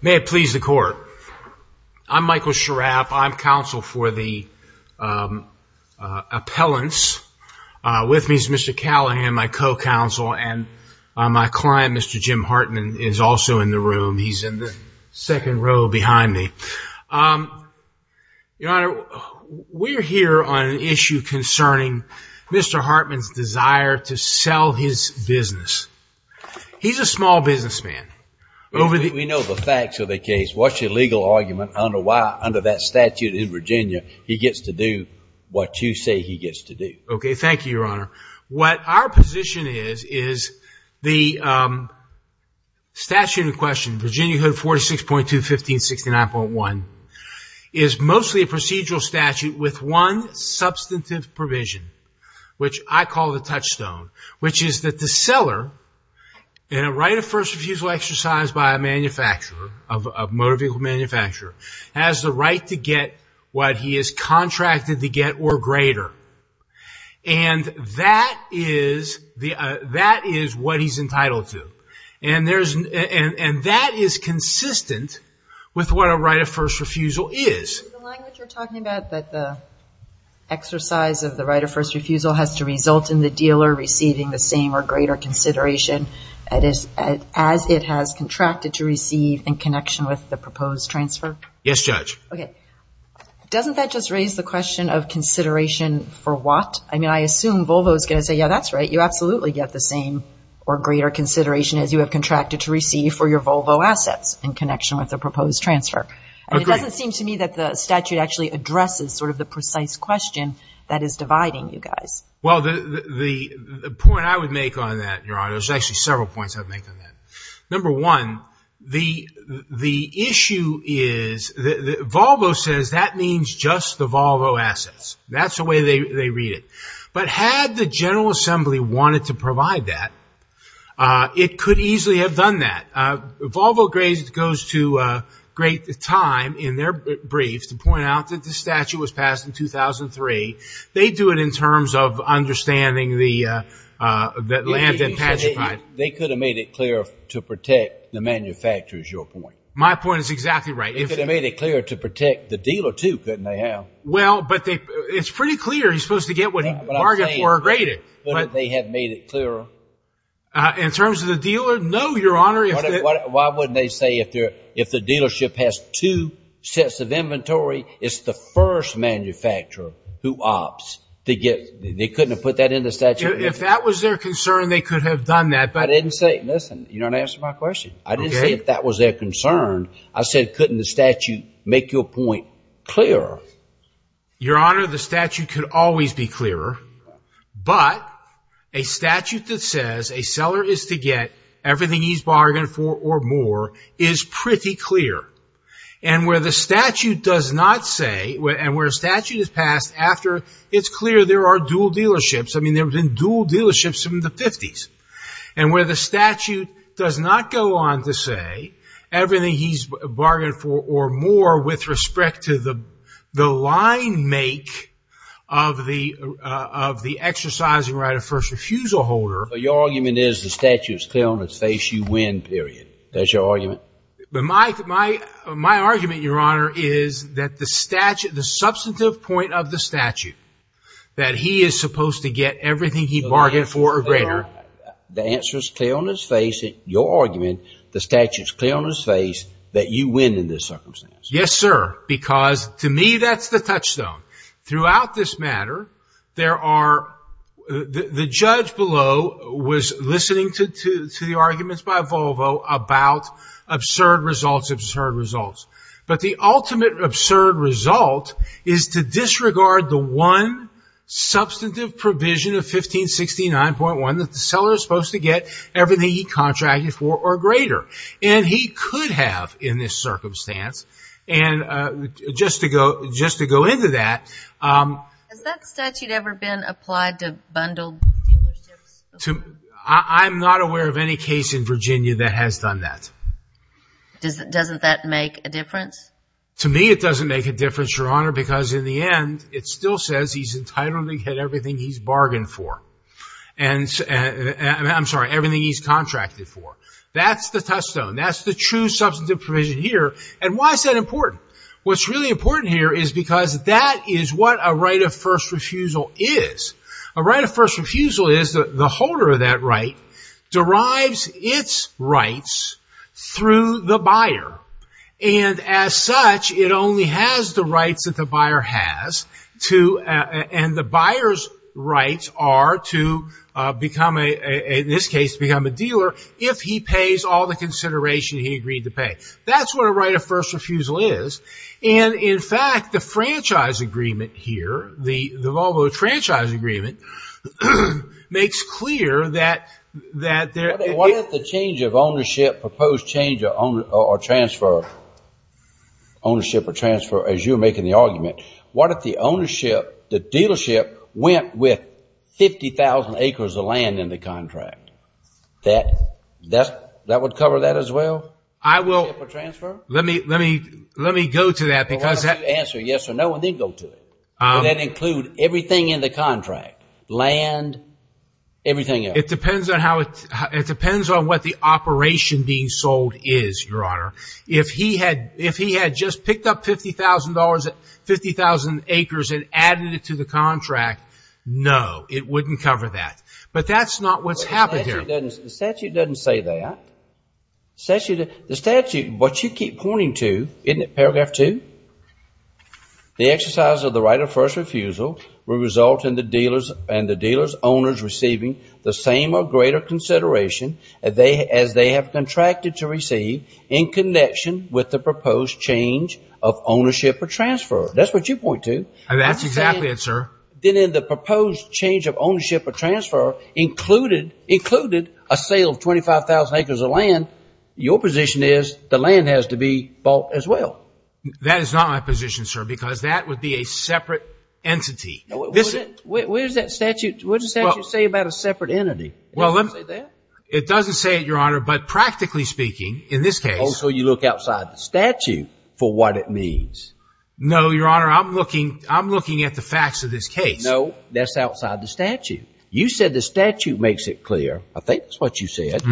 May it please the court. I'm Michael Schirrapp. I'm counsel for the appellants. With me is Mr. Callahan, my co-counsel, and my client Mr. Jim Hartman is also in the room. He's in the second row behind me. Your Honor, we're here on an issue concerning Mr. Hartman's desire to sell his business. He's a small businessman. We know the facts of the case. What's your legal argument on why under that statute in Virginia he gets to do what you say he gets to do? Okay, thank you Your Honor. What our position is, is the statute in question, Virginia 46.2 1569.1, is mostly a procedural statute with one substantive provision, which I call the touchstone, which is that the seller in a right of first refusal exercised by a manufacturer, a motor vehicle manufacturer, has the right to get what he is contracted to get or greater. And that is what he's entitled to. And that is consistent with what a right of first refusal is. The language you're talking about, that the exercise of the right of first refusal has to result in the dealer receiving the same or greater consideration as it has contracted to receive in connection with the proposed transfer? Yes, Judge. Okay. Doesn't that just raise the question of consideration for what? I mean, I assume Volvo's going to say, yeah, that's right. You absolutely get the same or greater consideration as you have contracted to receive for your Volvo assets in connection with the proposed transfer. It doesn't seem to me that the statute actually addresses sort of the precise question that is dividing you guys. Well, the point I would make on that, Your Honor, there's actually several points I'd make on that. Number one, the issue is that Volvo says that means just the Volvo assets. That's the way they read it. But had the General Assembly wanted to provide that, it could easily have done that. Volvo goes to great time in their briefs to point out that the statute was passed in 2003. They do it in terms of understanding the land and the dealership. If it had made it clear to protect the manufacturers, your point. My point is exactly right. If it had made it clear to protect the dealer, too, couldn't they have? Well, but it's pretty clear he's supposed to get what he bargained for or graded. But if they had made it clearer? In terms of the dealer, no, Your Honor. Why wouldn't they say if the dealership has two sets of inventory, it's the first manufacturer who opts. They couldn't have put that in the statute. If that was their concern, they could have done that. But I didn't say, listen, you don't answer my question. I didn't say if that was their concern. I said, couldn't the statute make your point clearer? Your Honor, the statute could always be clearer. But a statute that says a seller is to get everything he's bargained for or more is pretty clear. And where the statute does not say, and where a statute is passed after it's clear there are dual dealerships. I mean, there have been dual dealerships from the 50s. And where the statute does not go on to say everything he's bargained for or more with respect to the line make of the exercising right of first refusal holder. Your argument is the statute is clear on its face, you win, period. That's your argument? My argument, Your Honor, is that the substantive point of the get everything he bargained for or greater. The answer is clear on his face, your argument, the statute is clear on his face, that you win in this circumstance. Yes, sir, because to me that's the touchstone. Throughout this matter, the judge below was listening to the arguments by Volvo about absurd results, absurd results. But the ultimate absurd result is to provision of 1569.1 that the seller is supposed to get everything he contracted for or greater. And he could have in this circumstance. And just to go into that. Has that statute ever been applied to bundled dealerships? I'm not aware of any case in Virginia that has done that. Doesn't that make a difference? To me it doesn't make a difference, Your Honor, because in the end it still says he's entitled to get everything he's bargained for. I'm sorry, everything he's contracted for. That's the touchstone. That's the true substantive provision here. And why is that important? What's really important here is because that is what a right of first refusal is. A right of first refusal is that the holder of that right derives its rights through the buyer. And as such, it only has the rights that the buyer's rights are to become, in this case, become a dealer if he pays all the consideration he agreed to pay. That's what a right of first refusal is. And in fact, the franchise agreement here, the Volvo franchise agreement, makes clear that... What if the change of ownership, proposed change or transfer, ownership or transfer, went with 50,000 acres of land in the contract? That would cover that as well? I will... Let me go to that because... Answer yes or no and then go to it. Would that include everything in the contract? Land, everything else? It depends on how it... It depends on what the operation being sold is, Your Honor. If he had just picked up $50,000 at 50,000 acres and added it to the contract, no, it wouldn't cover that. But that's not what's happened here. The statute doesn't say that. The statute, what you keep pointing to, isn't it paragraph 2? The exercise of the right of first refusal will result in the dealers and the dealer's owners receiving the same or greater consideration as they have contracted to change of ownership or transfer. That's what you point to. That's exactly it, sir. Then in the proposed change of ownership or transfer included a sale of 25,000 acres of land, your position is the land has to be bought as well. That is not my position, sir, because that would be a separate entity. Where does that statute say about a separate entity? It doesn't say it, Your Honor, but what it means. No, Your Honor, I'm looking at the facts of this case. No, that's outside the statute. You said the statute makes it clear. I think that's what you said.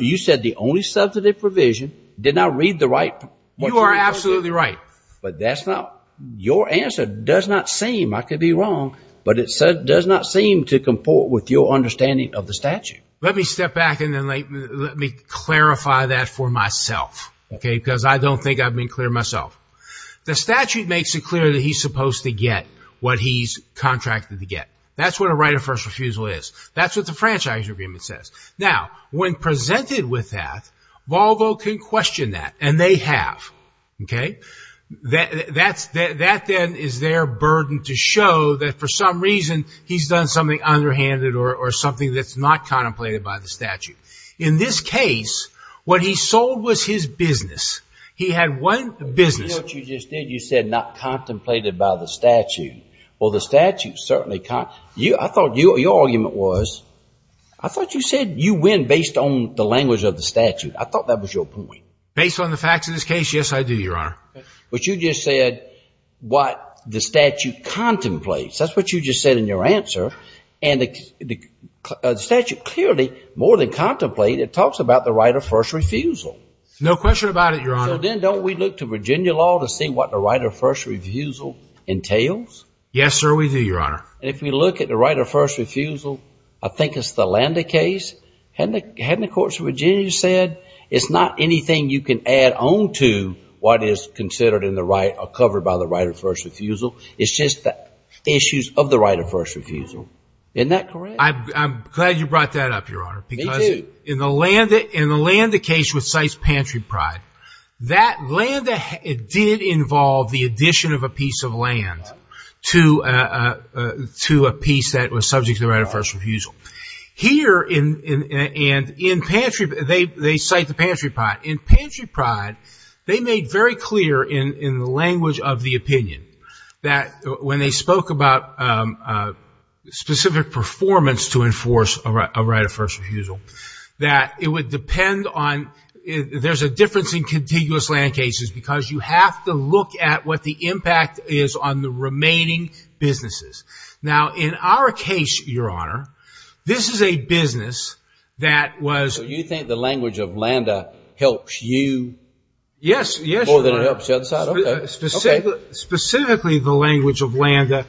You said the only substantive provision. Did I read the right... You are absolutely right. But that's not... Your answer does not seem, I could be wrong, but it does not seem to comport with your understanding of the statute. Let me step back and then let me clarify that for myself, okay, because I don't think I've been clear myself. The statute makes it clear that he's supposed to get what he's contracted to get. That's what a right of first refusal is. That's what the Franchise Agreement says. Now, when presented with that, Volvo can question that, and they have, okay? That then is their burden to show that for some reason he's done something underhanded or something that's not business. You know what you just did? You said not contemplated by the statute. Well, the statute certainly... I thought your argument was, I thought you said you win based on the language of the statute. I thought that was your point. Based on the facts of this case, yes, I do, Your Honor. But you just said what the statute contemplates. That's what you just said in your answer, and the statute clearly, more than contemplate, it talks about the right of first refusal. No question about it, Your Honor. So then, don't we look to Virginia law to see what the right of first refusal entails? Yes, sir, we do, Your Honor. And if we look at the right of first refusal, I think it's the Landa case. Hadn't the courts of Virginia said it's not anything you can add on to what is considered in the right or covered by the right of first refusal? It's just the issues of the right of first refusal. Isn't that correct? I'm glad you brought that up, Your Honor, because in the Landa case, which cites Pantry Pride, that Landa did involve the addition of a piece of land to a piece that was subject to the right of first refusal. Here, and in Pantry, they cite the Pantry Pride. In Pantry Pride, they made very clear in the language of the opinion that when they spoke about specific performance to enforce a right of first refusal, that it would depend on, there's a difference in contiguous land cases, because you have to look at what the impact is on the remaining businesses. Now, in our case, Your Honor, this is a business that was... So you think the language of Landa helps you? Yes, yes, Your Honor. More than it helps the other side? Specifically, the language of Landa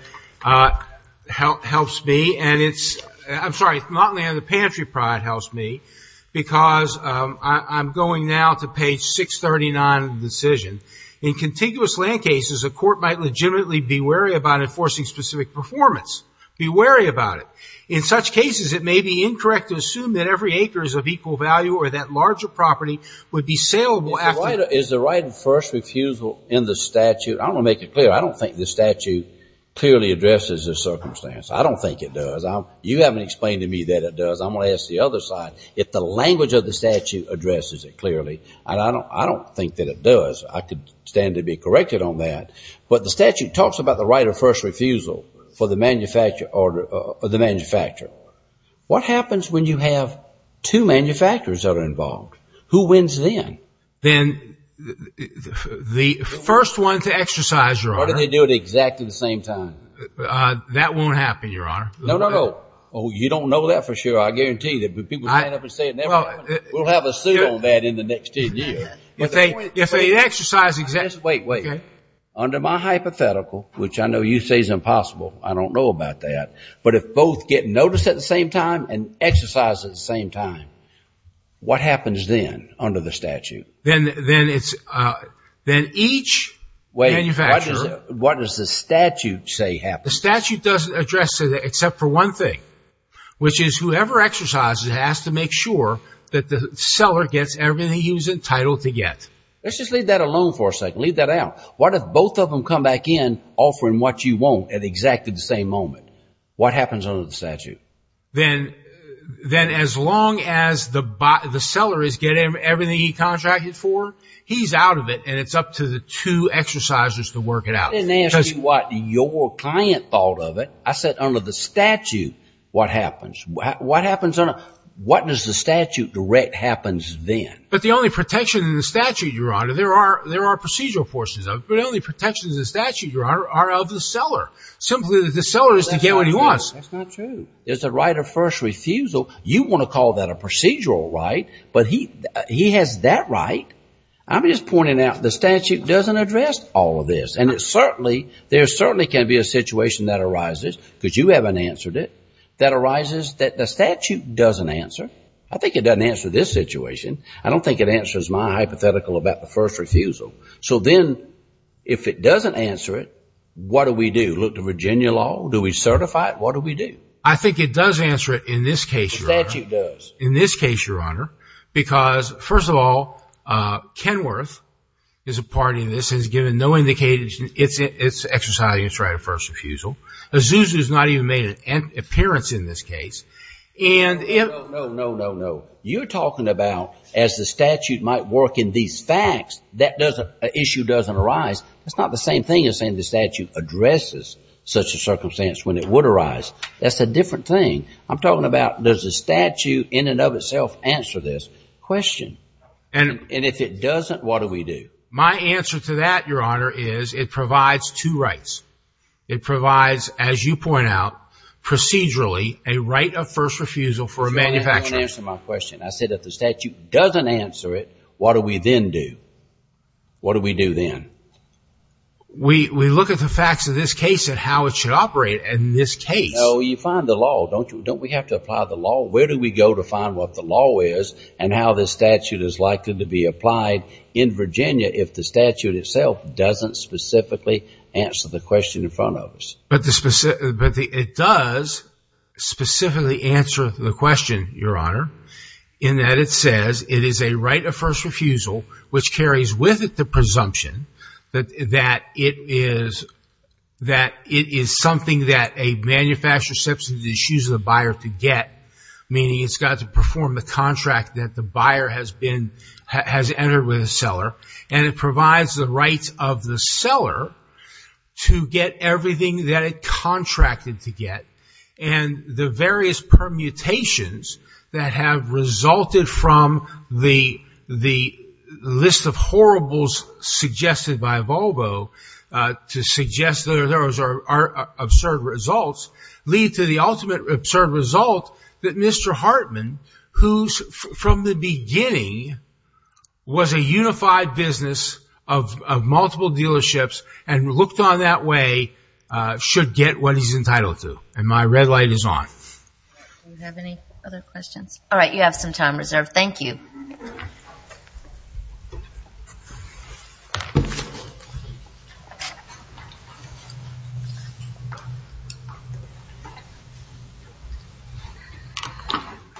helps me, and it's, I'm sorry, not Landa, Pantry Pride helps me, because I'm going now to page 639 of the decision. In contiguous land cases, a court might legitimately be wary about enforcing specific performance. Be wary about it. In such cases, it may be incorrect to assume that every acre is of equal value or that larger property would be saleable after... Is the right of first refusal in the statute... I want to make it clear, I don't think the statute clearly addresses this circumstance. I don't think it does. You haven't explained to me that it does. I'm going to ask the other side. If the language of the statute addresses it clearly, and I don't think that it does, I could stand to be corrected on that, but the statute talks about the right of first refusal for the manufacturer. What happens when you have two manufacturers that are involved? Who wins then? Then the first one to exercise... Or do they do it exactly the same time? That won't happen, Your Honor. No, no, no. Oh, you don't know that for sure. I guarantee that when people stand up and say it never happens, we'll have a suit on that in the next 10 years. If they exercise exactly... Wait, wait. Under my hypothetical, which I know you say is impossible, I don't know about that, but if both get noticed at the same time and exercise at the same time, what happens then under the statute? Then each manufacturer... Wait, what does the statute say happens? The statute doesn't address it except for one thing, which is whoever exercises has to make sure that the seller gets everything he was entitled to get. Let's just leave that alone for a second. Leave that out. What if both of them come back in offering what you want at exactly the same moment? What happens under the statute? Then as long as the seller is getting everything he contracted for, he's out of it, and it's up to the two exercisers to work it out. I didn't ask you what your client thought of it. I said under the statute, what happens? What does the statute direct happens then? But the only protection in the statute, Your Honor, there are procedural portions of it. But the only protection in the statute, Your Honor, are of the seller. Simply, the seller is to get what he wants. That's not true. That's not true. It's a right of first refusal. You want to call that a procedural right, but he has that right. I'm just pointing out the statute doesn't address all of this, and there certainly can be a situation that arises, because you haven't answered it, that arises that the statute doesn't answer. I think it doesn't answer this situation. I don't think it answers my hypothetical about the first refusal. So then if it doesn't answer it, what do we do? Look to Virginia law? Do we certify it? What do we do? I think it does answer it in this case, Your Honor. The statute does. In this case, Your Honor, because first of all, Kenworth is a party in this and has given no indication it's exercising a right of first refusal. Azusa has not even made an appearance in this case. No, no, no, no, no. You're talking about as the statute might work in these facts, that issue doesn't arise. It's not the same thing as saying the statute addresses such a circumstance when it would arise. That's a different thing. I'm talking about does the statute in and of itself answer this question? And if it doesn't, what do we do? My answer to that, Your Honor, is it provides two rights. It provides, as you point out, procedurally, a right of first refusal for a manufacturer. I said if the statute doesn't answer it, what do we then do? What do we do then? We look at the facts of this case and how it should operate in this case. No, you find the law. Don't we have to apply the law? Where do we go to find what the law is and how this statute is likely to be applied in Virginia if the statute itself doesn't specifically answer the question in front of us? But it does specifically answer the question, Your Honor, in that it says it is a right of first refusal, which carries with it the presumption that it is something that a manufacturer subsidizes the buyer to get, meaning it's got to perform the contract that the buyer has entered with the seller. And it provides the rights of the seller to get everything that it contracted to get. And the various permutations that have resulted from the list of horribles suggested by Volvo to suggest that those are absurd results, lead to the ultimate absurd result that Mr. Hartman, who from the beginning was a unified business of multiple dealerships and looked on that way, should get what he's entitled to. And my red light is on. Do we have any other questions? All right, you have some time reserved. Thank you.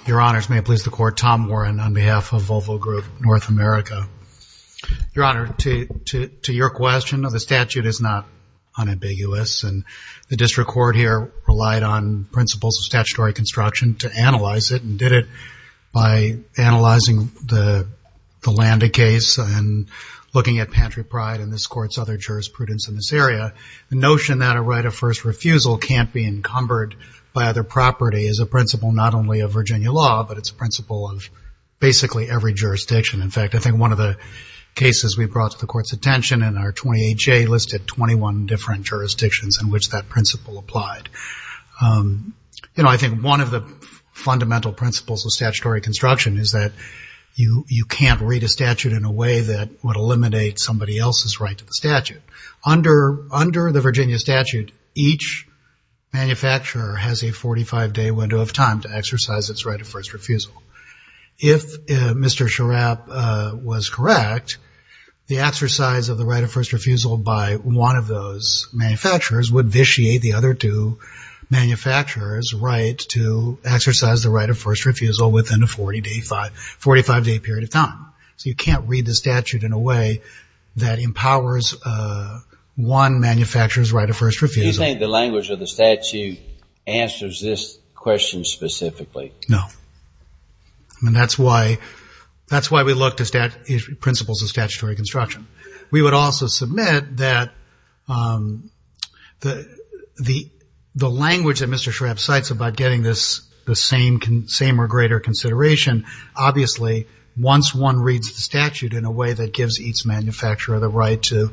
Your Honors, may it please the Court, Tom Warren on behalf of Volvo Group North America. Your Honor, to your question, the statute is not unambiguous, and the district court here relied on principles of statutory construction to analyze it, and did it by analyzing the Landa case and looking at Pantry Pride and this Court's other jurisprudence in this area. The notion that a right of first refusal can't be encumbered by other property is a principle not only of Virginia law, but it's a principle of basically every jurisdiction. In fact, I think one of the cases we brought to the Court's attention in our 28J listed 21 different jurisdictions in which that principle applied. You know, I think one of the fundamental principles of statutory construction is that you can't read a statute in a way that would eliminate somebody else's right to the statute. Under the Virginia statute, each manufacturer has a 45-day window of time to exercise its right of first refusal. If Mr. Schirrapp was correct, the exercise of the right of first refusal by one of those manufacturers would vitiate the other two manufacturers' right to exercise the right of first refusal within a 45-day period of time. So you can't read the statute in a way that empowers one manufacturer's right of first refusal. Do you think the language of the statute answers this question specifically? No. I mean, that's why we looked at principles of statutory construction. We would also submit that the language that Mr. Schirrapp cites about getting this same or greater consideration, obviously once one reads the statute in a way that gives each manufacturer the right to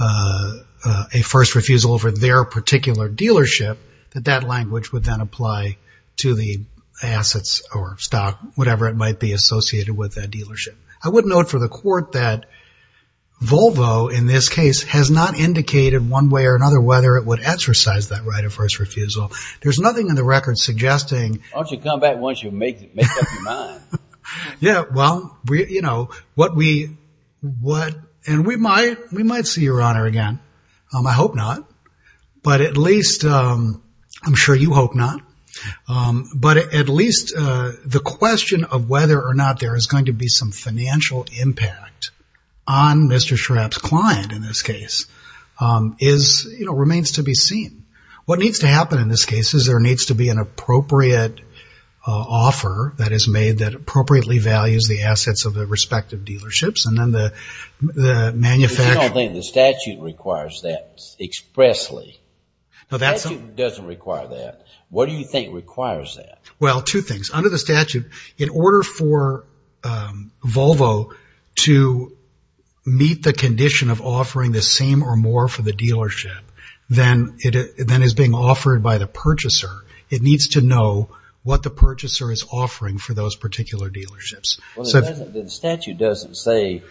a first refusal over their particular dealership, that that language would then apply to the assets or stock, whatever it might be associated with that dealership. I would note for the court that Volvo, in this case, has not indicated one way or another whether it would exercise that right of first refusal. There's nothing in the record suggesting— Why don't you come back once you've made up your mind? Yeah, well, you know, what we—and we might see your honor again. I hope not, but at least—I'm sure you hope not. But at least the question of whether or not there is going to be some financial impact on Mr. Schirrapp's client, in this case, remains to be seen. What needs to happen in this case is there needs to be an appropriate offer that is made that appropriately values the assets of the respective dealerships, and then the manufacturer— I don't think the statute requires that expressly. The statute doesn't require that. What do you think requires that? Well, two things. Under the statute, in order for Volvo to meet the condition of offering the same or more for the dealership than is being offered by the purchaser, it needs to know what the purchaser is offering for those particular dealerships. The statute doesn't say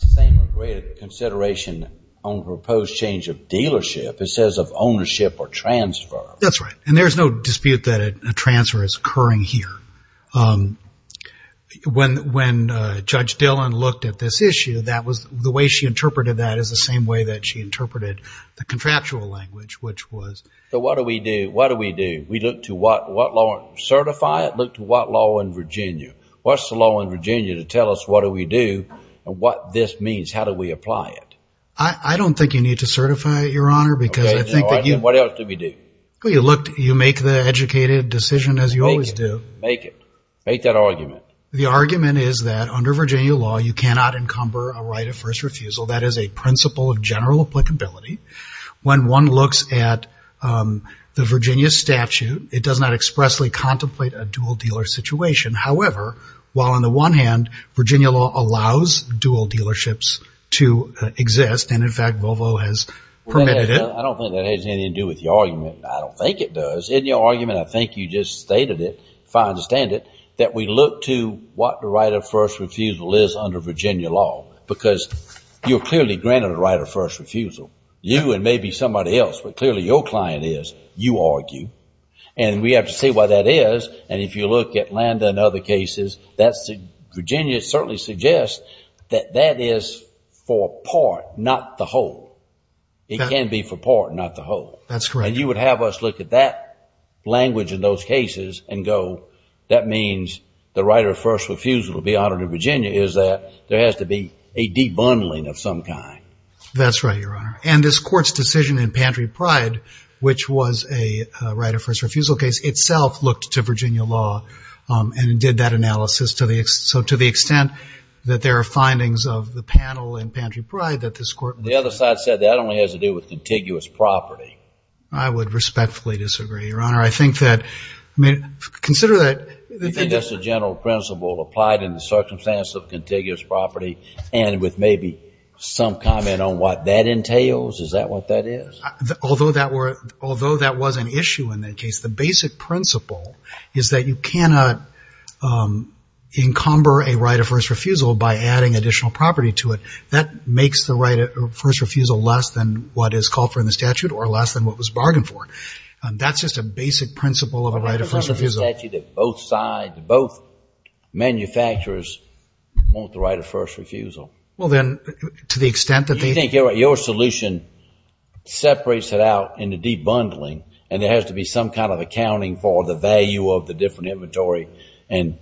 the same or greater consideration on proposed change of dealership. It says of ownership or transfer. That's right. And there's no dispute that a transfer is occurring here. When Judge Dillon looked at this issue, that was—the way she interpreted that is the same way that she interpreted the contractual language, which was— So what do we do? What do we do? We look to what law—certify it? Look to what law in Virginia? What's the law in Virginia to tell us what do we do and what this means? How do we apply it? I don't think you need to certify it, your honor, because I think that you— What else do we do? Well, you look—you make the educated decision as you always do. Make it. Make it. Make that argument. The argument is that under Virginia law, you cannot encumber a right of first refusal. That is a principle of general applicability. When one looks at the Virginia statute, it does not expressly contemplate a dual dealer situation. However, while on the one hand, Virginia law allows dual dealerships to exist, and in fact, Volvo has permitted it— I don't think that has anything to do with your argument. I don't think it does. In your argument, I think you just stated it, if I understand it, that we look to what the right of first refusal is under Virginia law, because you're clearly granted a right of first refusal. You and maybe somebody else, but clearly your client is. You argue. And we have to see what that is. And if you look at Landa and other cases, that's—Virginia certainly suggests that that is for a part, not the whole. It can be for part, not the whole. That's correct. And you would have us look at that language in those cases and go, that means the right of first refusal to be honored in Virginia is that there has to be a debundling of some kind. That's right, Your Honor. And this Court's decision in Pantry Pride, which was a right of first refusal case, itself looked to Virginia law and did that analysis. So to the extent that there are findings of the panel in Pantry Pride that this Court— The other side said that only has to do with contiguous property. I would respectfully disagree, Your Honor. I think that—I mean, consider that— You think that's a general principle applied in the circumstance of contiguous property and with maybe some comment on what that entails? Is that what that is? Although that was an issue in that case, the basic principle is that you cannot encumber a right of first refusal by adding additional property to it. That makes the right of first refusal less than what is called for in the statute or less than what was bargained for. That's just a basic principle of a right of first refusal. A right of first refusal statute that both manufacturers want the right of first refusal. Well, then, to the extent that they— You think your solution separates it out in the debundling and there has to be some kind of accounting for the value of the different inventory and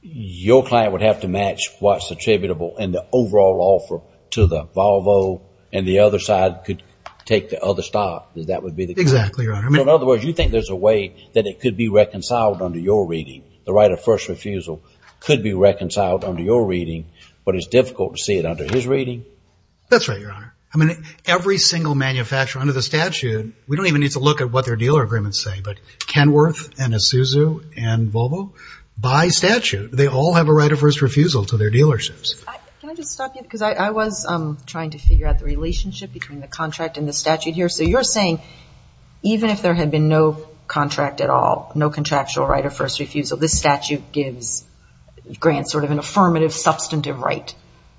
your client would have to match what's attributable and the overall offer to the Volvo and the other side could take the other stop. That would be the case? Exactly, Your Honor. In other words, you think there's a way that it could be reconciled under your reading? The right of first refusal could be reconciled under your reading, but it's difficult to see it under his reading? That's right, Your Honor. I mean, every single manufacturer under the statute, we don't even need to look at what their dealer agreements say, but Kenworth and Isuzu and Volvo, by statute, they all have a right of first refusal to their dealerships. Can I just stop you? Because I was trying to figure out the relationship between the contract and the statute here. So you're saying even if there had been no contract at all, no contractual right of first refusal, this statute grants sort of an affirmative substantive right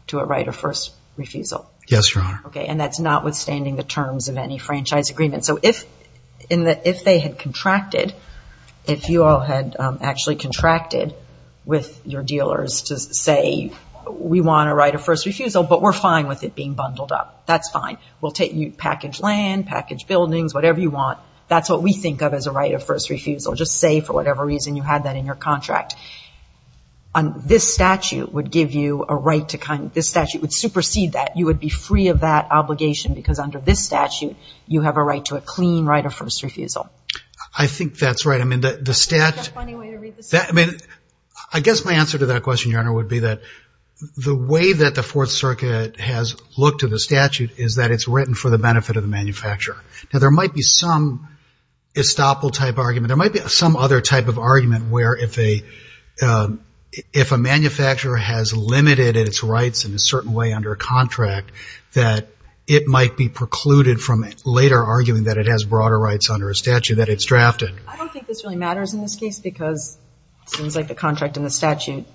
to a right of first refusal? Yes, Your Honor. Okay, and that's notwithstanding the terms of any franchise agreement. So if they had contracted, if you all had actually contracted with your dealers to say we want a right of first refusal, but we're fine with it being bundled up. That's fine. We'll package land, package buildings, whatever you want. That's what we think of as a right of first refusal. Just say for whatever reason you had that in your contract. This statute would give you a right to kind of – this statute would supersede that. You would be free of that obligation because under this statute, you have a right to a clean right of first refusal. I think that's right. I guess my answer to that question, Your Honor, would be that the way that the Fourth Circuit has looked to the statute is that it's written for the benefit of the manufacturer. Now there might be some estoppel type argument. There might be some other type of argument where if a manufacturer has limited its rights in a certain way under a contract, that it might be precluded from later arguing that it has broader rights under a statute, that it's drafted. I don't think this really matters in this case because it seems like the contract and the statute,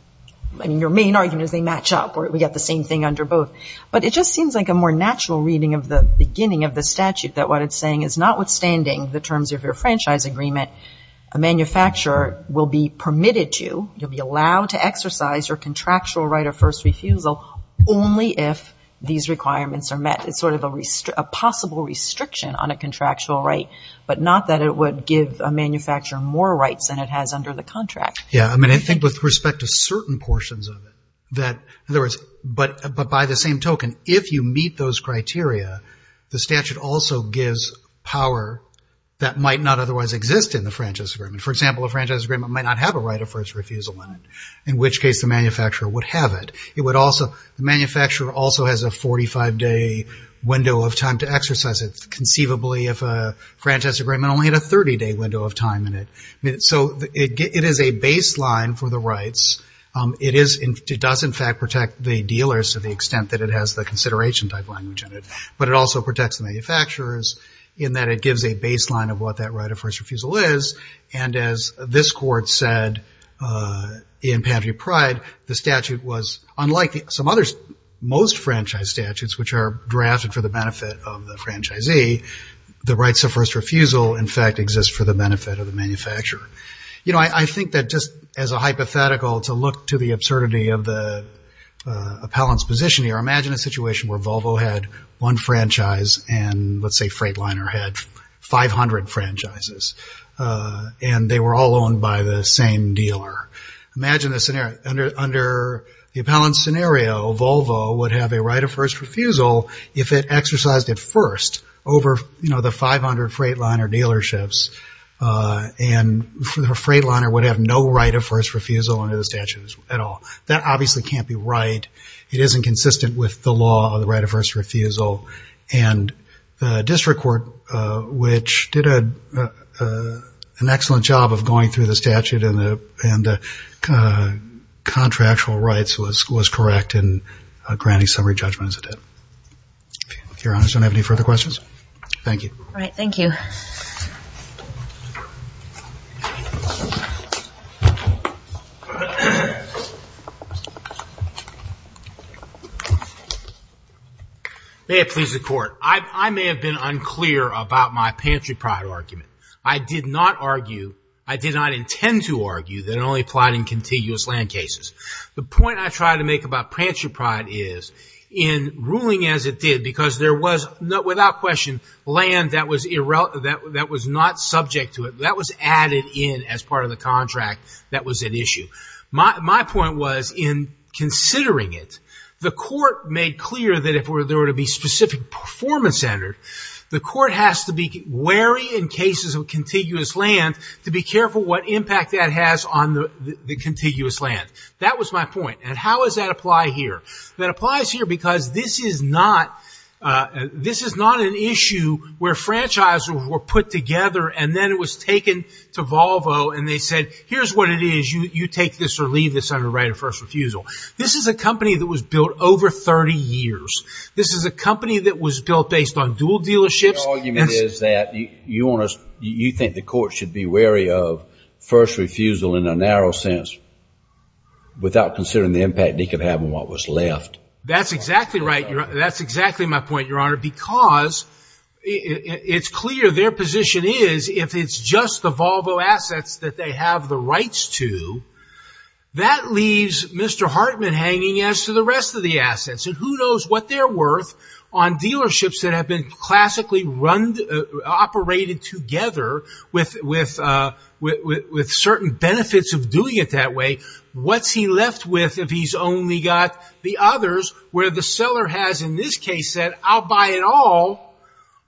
I mean, your main argument is they match up or we've got the same thing under both. But it just seems like a more natural reading of the beginning of the statute, that what it's saying is notwithstanding the terms of your franchise agreement, a manufacturer will be permitted to, you'll be allowed to exercise your contractual right of first refusal only if these requirements are met. It's sort of a possible restriction on a contractual right, but not that it would give a manufacturer more rights than it has under the contract. Yeah. I mean, I think with respect to certain portions of it, but by the same token, if you meet those criteria, the statute also gives power that might not otherwise exist in the franchise agreement. For example, a franchise agreement might not have a right of first refusal in it, in which case the manufacturer would have it. The manufacturer also has a 45-day window of time to exercise it, conceivably if a franchise agreement only had a 30-day window of time in it. So it is a baseline for the rights. It does in fact protect the dealers to the extent that it has the consideration type language in it, but it also protects the manufacturers in that it gives a baseline of what that right of first refusal is and as this court said in Pantry Pride, the statute was unlike some others, most franchise statutes which are drafted for the benefit of the franchisee, the rights of first refusal in fact exist for the benefit of the manufacturer. You know, I think that just as a hypothetical to look to the absurdity of the appellant's position here, imagine a situation where Volvo had one franchise and let's say Freightliner had 500 franchises and they were all owned by the same dealer. Imagine the appellant's scenario, Volvo would have a right of first refusal if it exercised it first over the 500 Freightliner dealerships and Freightliner would have no right of first refusal under the statute at all. That obviously can't be right. It isn't consistent with the law of the right of first refusal and the district court which did an excellent job of going through the statute and the contractual rights was correct in granting summary judgment as it did. If your honors don't have any further questions. Thank you. All right, thank you. May it please the court. I may have been unclear about my Pantry Pride argument. I did not argue, I did not intend to argue that it only applied in contiguous land cases. The point I tried to make about Pantry Pride is in ruling as it did because there was, without question, land that was not subject to it. That was added in as part of the contract that was at issue. My point was in considering it, the court made clear that if there were to be specific performance standard, the court has to be wary in cases of contiguous land to be careful what impact that has on the contiguous land. That was my point. And how does that apply here? That applies here because this is not an issue where franchisors were put together and then it was taken to Volvo and they said, here's what it is, you take this or leave this under right of first refusal. This is a company that was built over 30 years. This is a company that was built based on dual dealerships. The argument is that you think the court should be wary of first refusal in a narrow sense without considering the impact they could have on what was left. That's exactly right. That's exactly my point, Your Honor. Because it's clear their position is if it's just the Volvo assets that they have the rights to, that leaves Mr. Hartman hanging as to the rest of the assets. And who knows what they're worth on dealerships that have been classically operated together with certain benefits of doing it that way. What's he left with if he's only got the others where the seller has in this case said, I'll buy it all,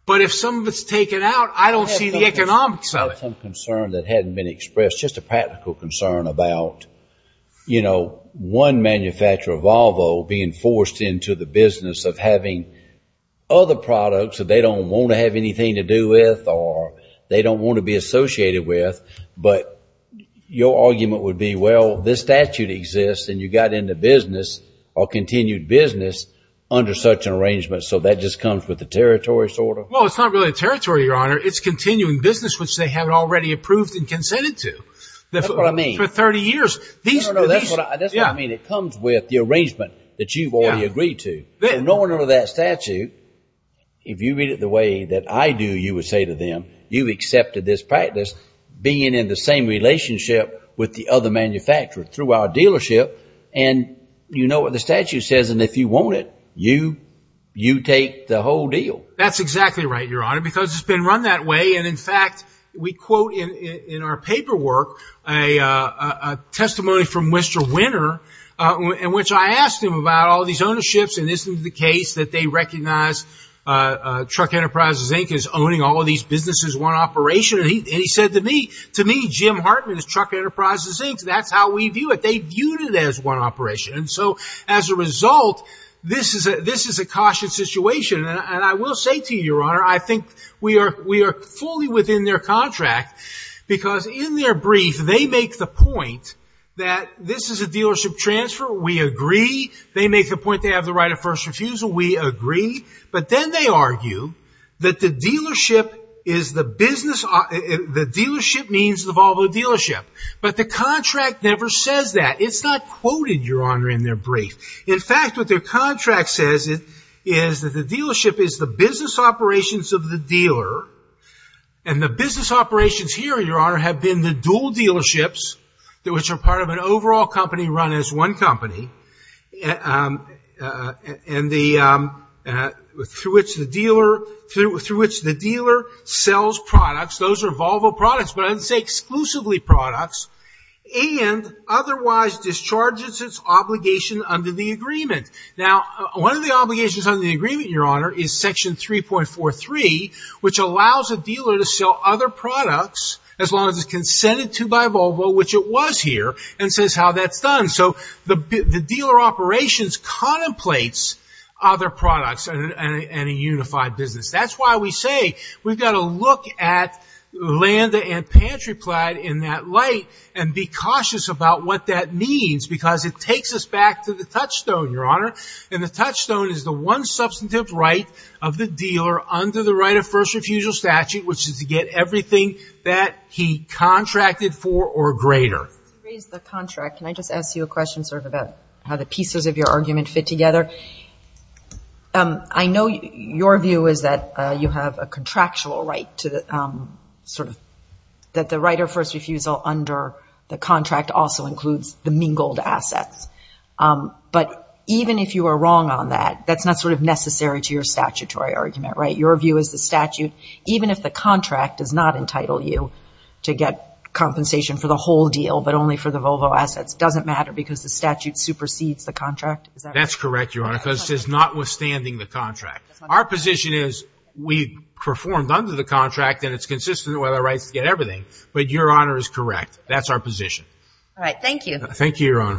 but if some of it's taken out, I don't see the economics of it. I had some concern that hadn't been expressed, just a practical concern about, you know, one manufacturer, Volvo, being forced into the business of having other products that they don't want to have anything to do with or they don't want to be associated with. But your argument would be, well, this statute exists and you got into business or continued business under such an arrangement. So that just comes with the territory sort of. Well, it's not really a territory, Your Honor. It's continuing business, which they have already approved and consented to. That's what I mean. For 30 years. That's what I mean. It comes with the arrangement that you've already agreed to. In order to that statute, if you read it the way that I do, you would say to them, you've accepted this practice, being in the same relationship with the other manufacturer through our dealership, and you know what the statute says, and if you want it, you take the whole deal. That's exactly right, Your Honor, because it's been run that way. And, in fact, we quote in our paperwork a testimony from Mr. Winter, in which I asked him about all these ownerships and isn't it the case that they recognize Truck Enterprises, Inc. is owning all of these businesses, one operation. And he said to me, to me, Jim Hartman is Truck Enterprises, Inc. That's how we view it. They viewed it as one operation. And so, as a result, this is a caution situation. And I will say to you, Your Honor, I think we are fully within their contract because in their brief they make the point that this is a dealership transfer. We agree. They make the point they have the right of first refusal. We agree. But then they argue that the dealership is the business, the dealership means the Volvo dealership. But the contract never says that. It's not quoted, Your Honor, in their brief. In fact, what their contract says is that the dealership is the business operations of the dealer and the business operations here, Your Honor, have been the dual dealerships, which are part of an overall company run as one company, and through which the dealer sells products. Those are Volvo products, but I didn't say exclusively products, and otherwise discharges its obligation under the agreement. Now, one of the obligations under the agreement, Your Honor, is Section 3.43, which allows a dealer to sell other products as long as it's consented to by Volvo, which it was here, and says how that's done. So the dealer operations contemplates other products and a unified business. That's why we say we've got to look at land and pantry plaid in that light and be cautious about what that means because it takes us back to the touchstone, Your Honor, and the touchstone is the one substantive right of the dealer under the right of first refusal statute, which is to get everything that he contracted for or greater. You raised the contract. Can I just ask you a question sort of about how the pieces of your argument fit together? I know your view is that you have a contractual right to sort of that the right of first refusal under the contract also includes the mingled assets. But even if you are wrong on that, that's not sort of necessary to your statutory argument, right? Your view is the statute, even if the contract does not entitle you to get compensation for the whole deal but only for the Volvo assets, doesn't matter because the statute supersedes the contract? That's correct, Your Honor, because it's notwithstanding the contract. Our position is we performed under the contract and it's consistent with our rights to get everything. But Your Honor is correct. That's our position. Thank you.